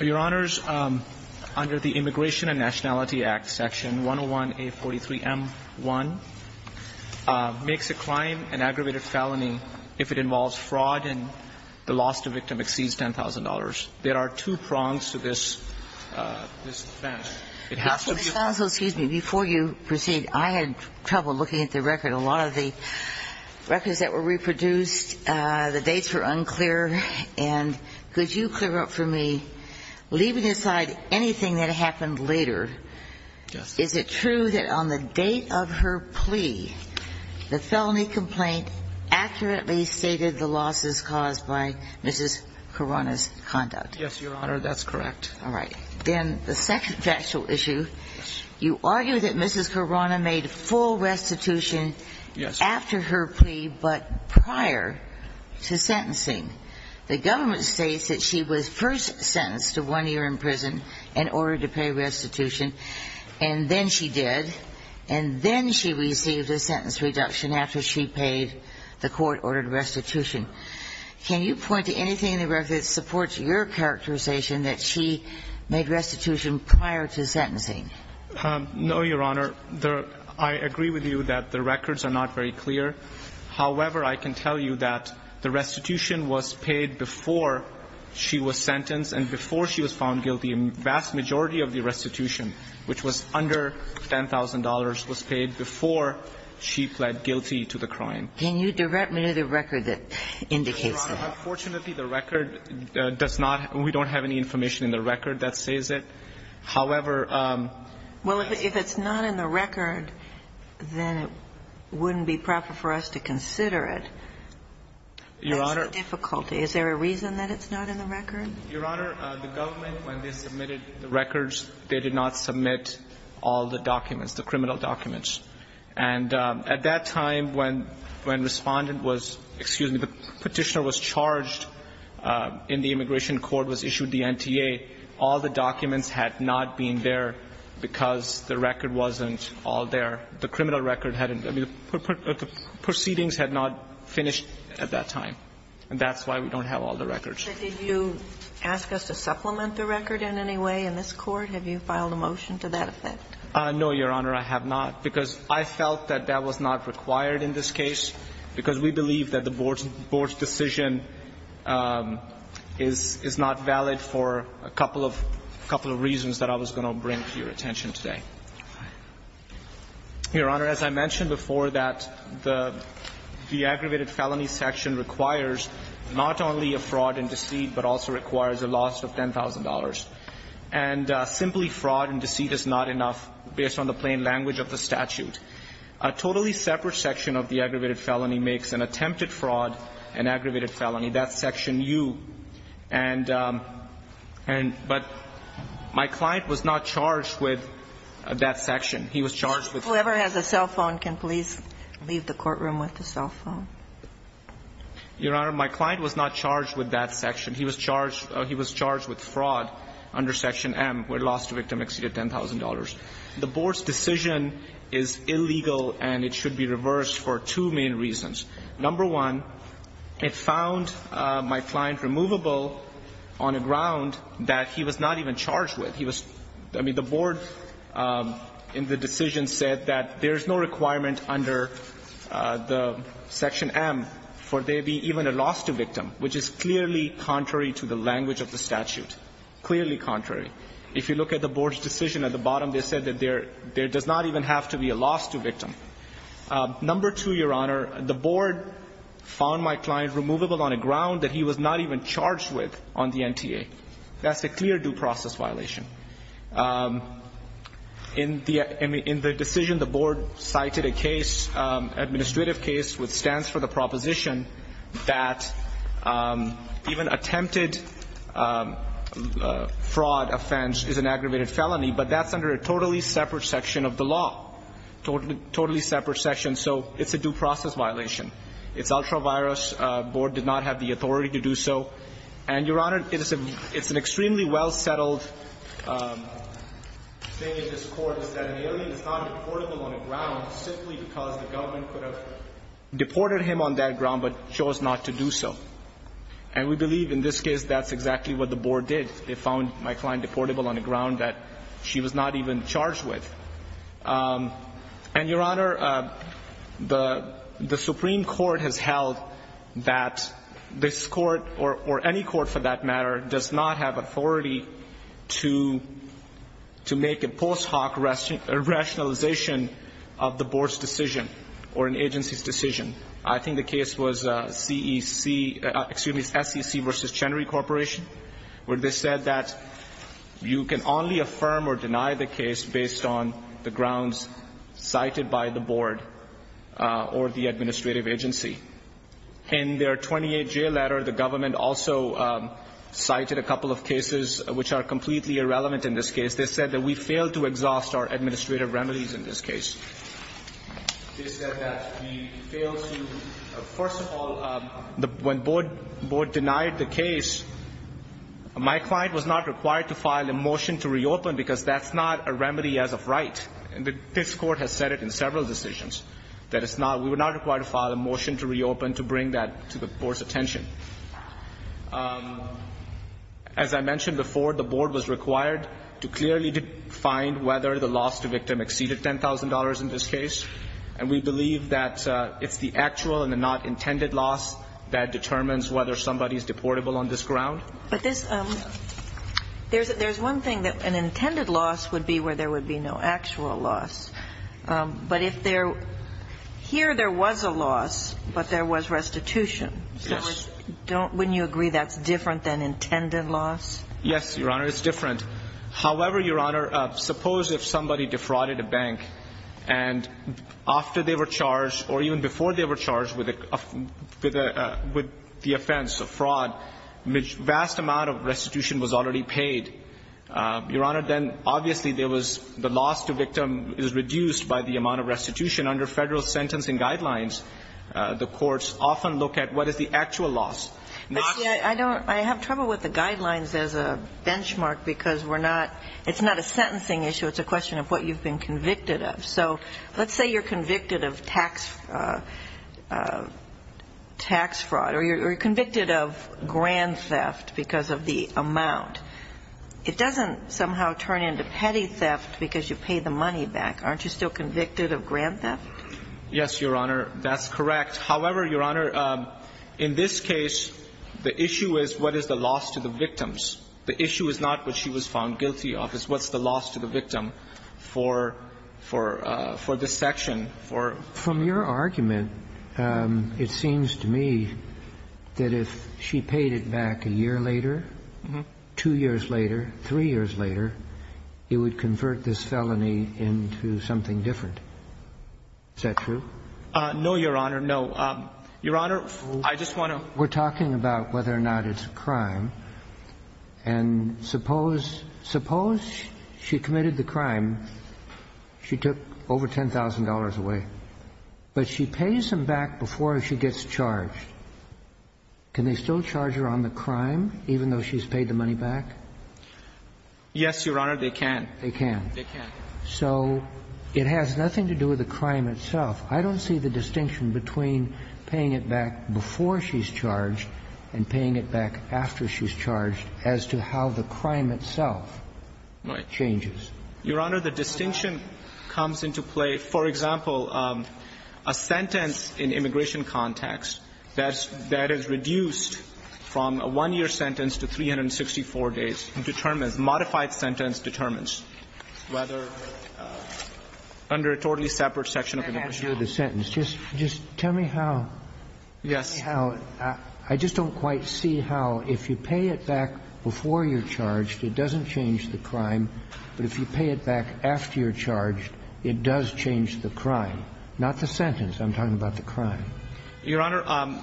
Your Honors, under the Immigration and Nationality Act Section 101A43M1 makes a crime an aggravated felony if it involves fraud and the loss to victim exceeds $10,000. There are two prongs to this defense. It has to be a crime. Judge, before you proceed, I had trouble looking at the record. A lot of the records that were reproduced, the dates were unclear. And could you clear up for me, leaving aside anything that happened later, is it true that on the date of her plea, the felony complaint accurately stated the losses caused by Mrs. Kharana's conduct? Yes, Your Honor, that's correct. All right. Then the second factual issue, you argue that Mrs. Kharana made full restitution after her plea but prior to sentencing. The government states that she was first sentenced to one year in prison and ordered to pay restitution, and then she did, and then she received a sentence reduction after she paid the court-ordered restitution. Can you point to anything in your characterization that she made restitution prior to sentencing? No, Your Honor. I agree with you that the records are not very clear. However, I can tell you that the restitution was paid before she was sentenced and before she was found guilty. A vast majority of the restitution, which was under $10,000, was paid before she pled guilty to the crime. Can you direct me to the record that indicates that? Unfortunately, the record does not – we don't have any information in the record that says it. However – Well, if it's not in the record, then it wouldn't be proper for us to consider it. Your Honor – That's the difficulty. Is there a reason that it's not in the record? Your Honor, the government, when they submitted the records, they did not submit all the documents, the criminal documents. And at that time, when Respondent was – excuse me, the Petitioner was charged in the Immigration Court, was issued the NTA, all the documents had not been there because the record wasn't all there. The criminal record hadn't – I mean, the proceedings had not finished at that time. And that's why we don't have all the records. But did you ask us to supplement the record in any way in this Court? Have you filed a motion to that effect? No, Your Honor, I have not, because I felt that that was not required in this case, because we believe that the Board's decision is not valid for a couple of reasons that I was going to bring to your attention today. Your Honor, as I mentioned before, that the aggravated felony section requires not only a fraud and deceit, but also requires a loss of $10,000. And simply fraud and deceit is not enough, based on the plain language of the statute. A totally separate section of the aggravated felony makes an attempted fraud an aggravated felony. That's section U. And – but my client was not charged with that section. He was charged with – Whoever has a cell phone can please leave the courtroom with the cell phone. Your Honor, my client was not charged with that section. He was charged – he was charged with fraud under section M, where loss to victim exceeded $10,000. The Board's decision is illegal, and it should be reversed for two main reasons. Number one, it found my client removable on a ground that he was not even charged with. He was – I mean, the Board, in the decision, said that there is no requirement under the section M for there be even a loss to victim, which is clearly contrary to the language of the statute. Clearly contrary. If you look at the Board's decision at the bottom, they said that there does not even have to be a loss to victim. Number two, Your Honor, the Board found my client removable on a ground that he was not even charged with on the NTA. That's a clear due process violation. In the decision, the Board cited a case, administrative case, which stands for the proposition that even attempted fraud, offense, is an aggravated felony, but that's under a totally separate section of the law. Totally separate section, so it's a due process violation. It's ultra-virus. The Board did not have the authority to do so. And, Your Honor, it's an extremely well-settled thing in this Court, is that an alien is not deportable on a ground simply because the government could have deported him on that ground, but chose not to do so. And we believe in this case that's exactly what the Board did. They found my client deportable on a ground that she was not even charged with. And, Your Honor, the Supreme Court has held that this Court, or any Court for that matter, does not have authority to make a post hoc rationalization of the Board's decision or an agency's decision. I think the case was SEC versus Chenery Corporation, where they said that you can only affirm or deny the case based on the grounds cited by the Board or the administrative agency. In their 28-J letter, the government also cited a couple of cases which are completely irrelevant in this case. They said that we failed to, first of all, when the Board denied the case, my client was not required to file a motion to reopen because that's not a remedy as of right. And this Court has said it in several decisions, that it's not, we were not required to file a motion to reopen to bring that to the Board's attention. As I mentioned before, the Board was required to clearly define whether the loss to victim exceeded $10,000 in this case. And we believe that it's the actual and the not intended loss that determines whether somebody is deportable on this ground. But this, there's one thing that an intended loss would be where there would be no actual loss. But if there, here there was a loss, but there was restitution. Yes. So wouldn't you agree that's different than intended loss? Yes, Your Honor, it's different. However, Your Honor, suppose if somebody defrauded a bank and after they were charged or even before they were charged with the offense of fraud, vast amount of restitution was already paid. Your Honor, then obviously there was, the loss to victim is reduced by the amount of restitution. Under Federal Sentencing Guidelines, the courts often look at what is the actual loss. But see, I don't, I have trouble with the guidelines as a benchmark because we're not, it's not a sentencing issue. It's a question of what you've been convicted of. So let's say you're convicted of tax, tax fraud, or you're convicted of grand theft because of the amount. It doesn't somehow turn into petty theft because you pay the money back. Aren't you still convicted of grand theft? Yes, Your Honor, that's correct. However, Your Honor, in this case, the issue is what is the loss to the victims. The issue is not what she was found guilty of. It's what's the loss to the victim for, for, for this section, for. From your argument, it seems to me that if she paid it back a year later, two years later, three years later, it would convert this felony into something different. Is that true? No, Your Honor, no. Your Honor, I just want to. We're talking about whether or not it's a crime. And suppose, suppose she committed the crime. She took over $10,000 away, but she pays him back before she gets charged. Can they still charge her on the crime, even though she's paid the money back? Yes, Your Honor, they can. They can. They can. So it has nothing to do with the crime itself. I don't see the distinction between paying it back before she's charged and paying it back after she's charged as to how the crime itself changes. Your Honor, the distinction comes into play, for example, a sentence in immigration context that's, that is reduced from a one-year sentence to 364 days determines, a modified sentence determines whether, under a totally separate section of immigration law. I can't hear the sentence. Just, just tell me how. Yes. How, I just don't quite see how if you pay it back before you're charged, it doesn't change the crime, but if you pay it back after you're charged, it does change the crime, not the sentence. I'm talking about the crime. Your Honor,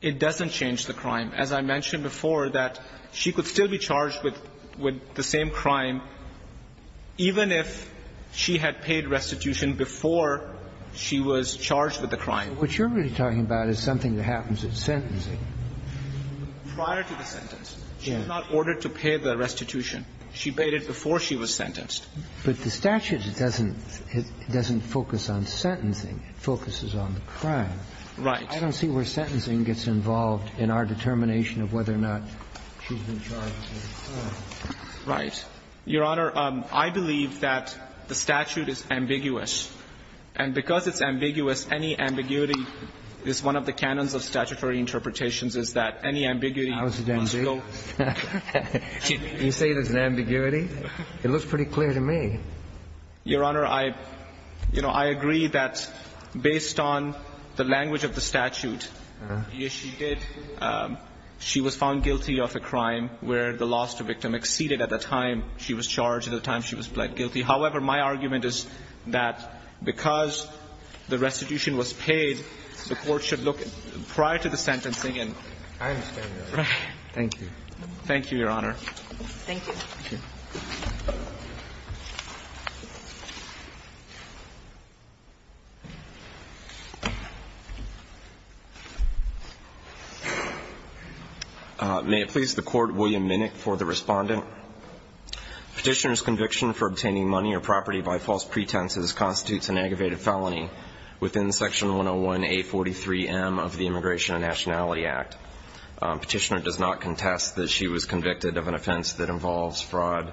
it doesn't change the crime. As I mentioned before, that she could still be charged with, with the same crime even if she had paid restitution before she was charged with the crime. So what you're really talking about is something that happens at sentencing. Prior to the sentence. Yes. She's not ordered to pay the restitution. She paid it before she was sentenced. But the statute doesn't, doesn't focus on sentencing. It focuses on the crime. Right. I don't see where sentencing gets involved in our determination of whether or not she's been charged with the crime. Right. Your Honor, I believe that the statute is ambiguous. And because it's ambiguous, any ambiguity is one of the canons of statutory interpretations is that any ambiguity must go. You say there's an ambiguity? It looks pretty clear to me. Your Honor, I, you know, I agree that based on the language of the statute, yes, she did, she was found guilty of a crime where the loss to victim exceeded at the time she was charged, at the time she was pled guilty. However, my argument is that because the restitution was paid, the court should look prior to the sentencing and. I understand that. Thank you. Thank you, Your Honor. Thank you. Thank you. May it please the court, William Minnick for the respondent. Petitioner's conviction for obtaining money or property by false pretenses constitutes an aggravated felony within Section 101A43M of the Immigration and Nationality Act. Petitioner does not contest that she was convicted of an offense that involves fraud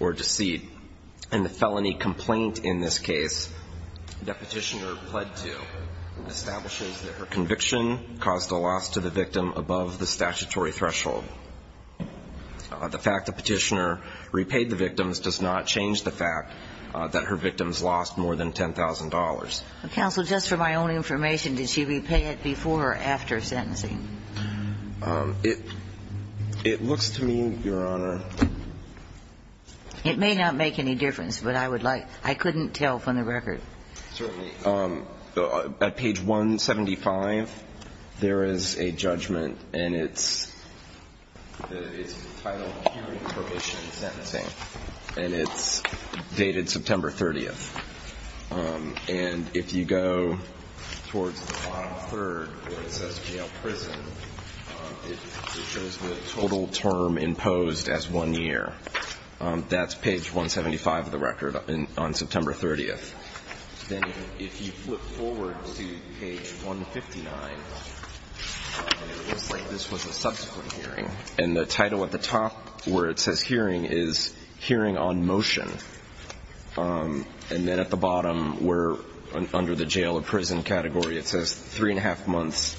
or deceit. And the felony complaint in this case that Petitioner pled to establishes that her conviction caused a loss to the victim above the statutory threshold. The fact that Petitioner repaid the victims does not change the fact that her victims lost more than $10,000. Counsel, just for my own information, did she repay it before or after sentencing? It, it looks to me, Your Honor. It may not make any difference, but I would like, I couldn't tell from the record. Certainly, at page 175, there is a judgment, and it's, it's titled Curing Probation and Sentencing, and it's dated September 30th. And if you go towards the bottom third, where it says jail prison, it shows the total term imposed as one year. That's page 175 of the record on, on September 30th. Then if you flip forward to page 159, it looks like this was a subsequent hearing. And the title at the top, where it says hearing, is hearing on motion. And then at the bottom, we're under the jail or prison category. It says three and a half months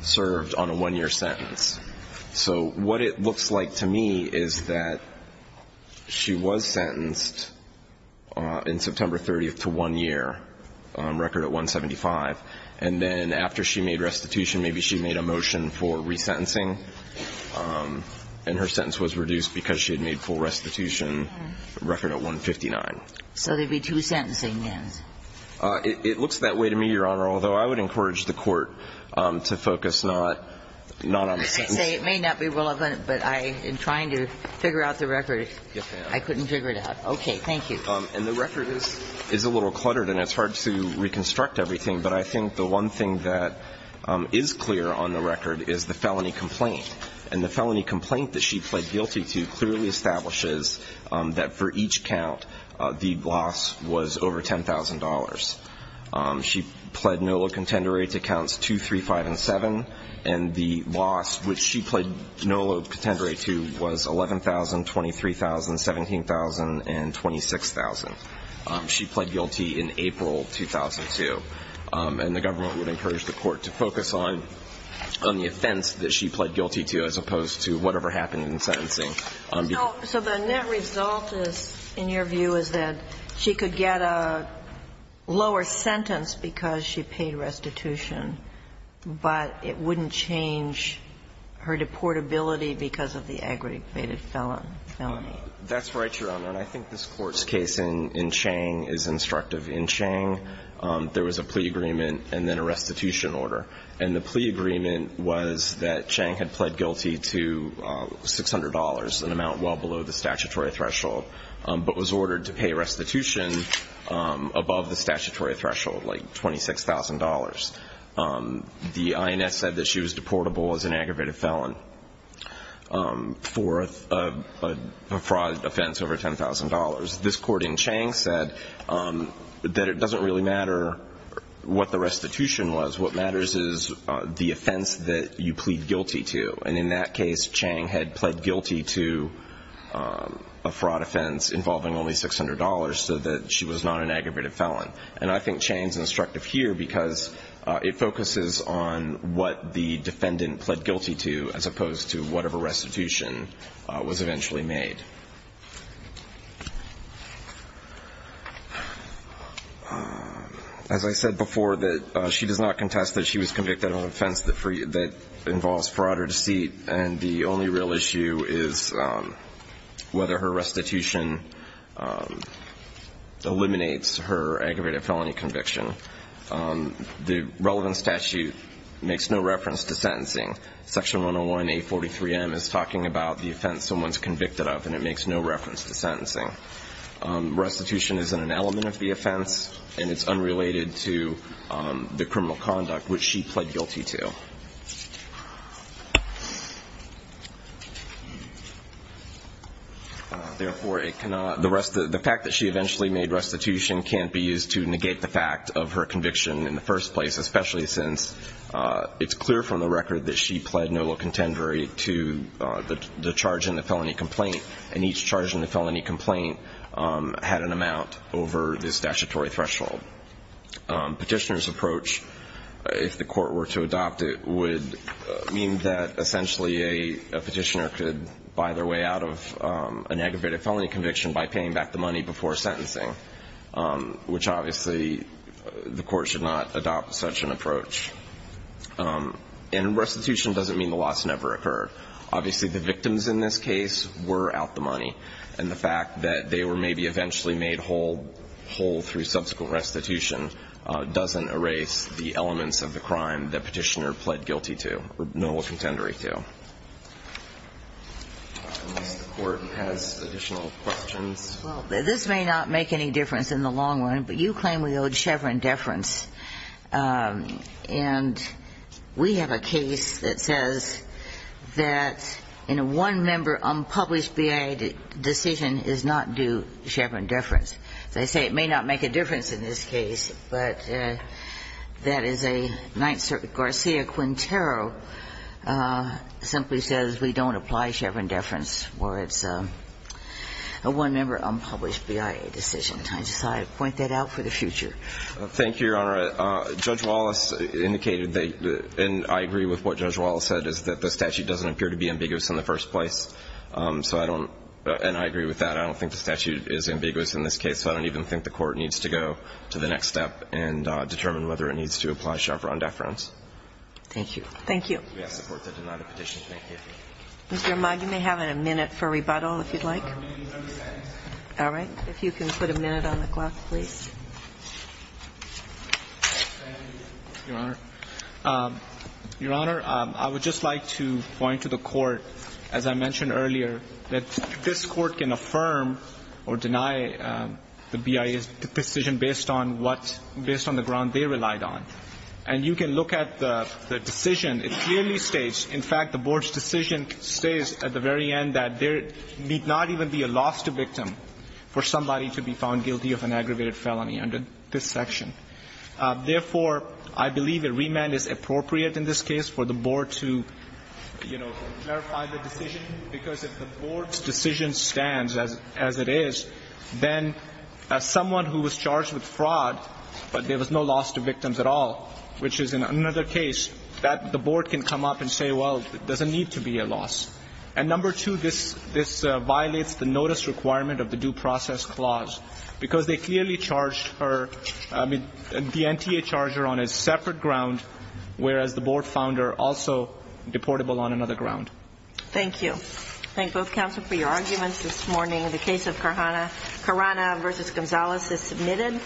served on a one year sentence. So, what it looks like to me is that she was sentenced in September 30th to one year on record at 175. And then after she made restitution, maybe she made a motion for resentencing, and her sentence was reduced because she had made full restitution record at 159. So there'd be two sentencing, yes. It, it looks that way to me, Your Honor, although I would encourage the court to focus not, not on the sentence. I say it may not be relevant, but I am trying to figure out the record. Yes, ma'am. I couldn't figure it out. Okay, thank you. And the record is, is a little cluttered, and it's hard to reconstruct everything. But I think the one thing that is clear on the record is the felony complaint. And the felony complaint that she pled guilty to clearly establishes that for each count, the loss was over $10,000. She pled no low contender rate to counts two, three, five, and seven. And the loss, which she pled no low contender rate to, was 11,000, 23,000, 17,000, and 26,000. She pled guilty in April 2002, and the government would encourage the court to focus on, on the offense that she pled guilty to as opposed to whatever happened in sentencing. So the net result is, in your view, is that she could get a lower sentence because she paid restitution. But it wouldn't change her deportability because of the aggravated felony. That's right, Your Honor. And I think this court's case in Chang is instructive. In Chang, there was a plea agreement and then a restitution order. And the plea agreement was that Chang had pled guilty to $600, an amount well below the statutory threshold, but was ordered to pay restitution above the statutory threshold, like $26,000. The INS said that she was deportable as an aggravated felon for a fraud offense over $10,000. This court in Chang said that it doesn't really matter what the restitution was. What matters is the offense that you plead guilty to. And in that case, Chang had pled guilty to a fraud offense involving only $600 so that she was not an aggravated felon. And I think Chang's instructive here because it focuses on what the defendant pled guilty to, as opposed to whatever restitution was eventually made. As I said before, that she does not contest that she was convicted of an offense that involves fraud or deceit, and the only real issue is whether her restitution eliminates her aggravated felony conviction. The relevant statute makes no reference to sentencing. Section 101A43M is talking about the offense someone's convicted of, and it makes no reference to sentencing. Restitution isn't an element of the offense, and it's unrelated to the criminal conduct which she pled guilty to. Therefore, the fact that she eventually made restitution can't be used to negate the fact of her conviction in the first place, especially since it's clear from the record that she pled no low contendory to the charge in the felony complaint. And each charge in the felony complaint had an amount over the statutory threshold. Petitioner's approach, if the court were to adopt it, would mean that essentially a petitioner could buy their way out of an aggravated felony conviction by paying back the money before sentencing. Which obviously, the court should not adopt such an approach. And restitution doesn't mean the loss never occurred. Obviously, the victims in this case were out the money. And the fact that they were maybe eventually made whole through subsequent restitution doesn't erase the elements of the crime that petitioner pled guilty to, or no low contendory to. Unless the court has additional questions. Well, this may not make any difference in the long run, but you claim we owed Chevron deference. And we have a case that says that in a one member unpublished BIA decision is not due Chevron deference. They say it may not make a difference in this case, but that is a 9th Circuit Garcia-Quintero simply says we don't apply Chevron deference where it's a one member unpublished BIA decision. I just thought I'd point that out for the future. Thank you, Your Honor. Judge Wallace indicated that, and I agree with what Judge Wallace said, is that the statute doesn't appear to be ambiguous in the first place. So I don't, and I agree with that. I don't think the statute is ambiguous in this case. So I don't even think the court needs to go to the next step and determine whether it needs to apply Chevron deference. Thank you. Thank you. We ask the court to deny the petition. Thank you. Mr. Amag, you may have a minute for rebuttal, if you'd like. All right. If you can put a minute on the clock, please. Your Honor, I would just like to point to the court, as I mentioned earlier, that this court can affirm or deny the BIA's decision based on what, based on the ground they relied on. And you can look at the decision. It clearly states, in fact, the board's decision states at the very end that there need not even be a lost victim for somebody to be found guilty of an aggravated felony under this section. Therefore, I believe a remand is appropriate in this case for the board to clarify the decision. Because if the board's decision stands as it is, then someone who was charged with fraud, but there was no loss to victims at all, which is another case that the board can come up and say, well, it doesn't need to be a loss. And number two, this violates the notice requirement of the due process clause. Because they clearly charged her, I mean, the NTA charged her on a separate ground, whereas the board found her also deportable on another ground. Thank you. Thank both counsel for your arguments this morning. The case of Carrana versus Gonzalez is submitted.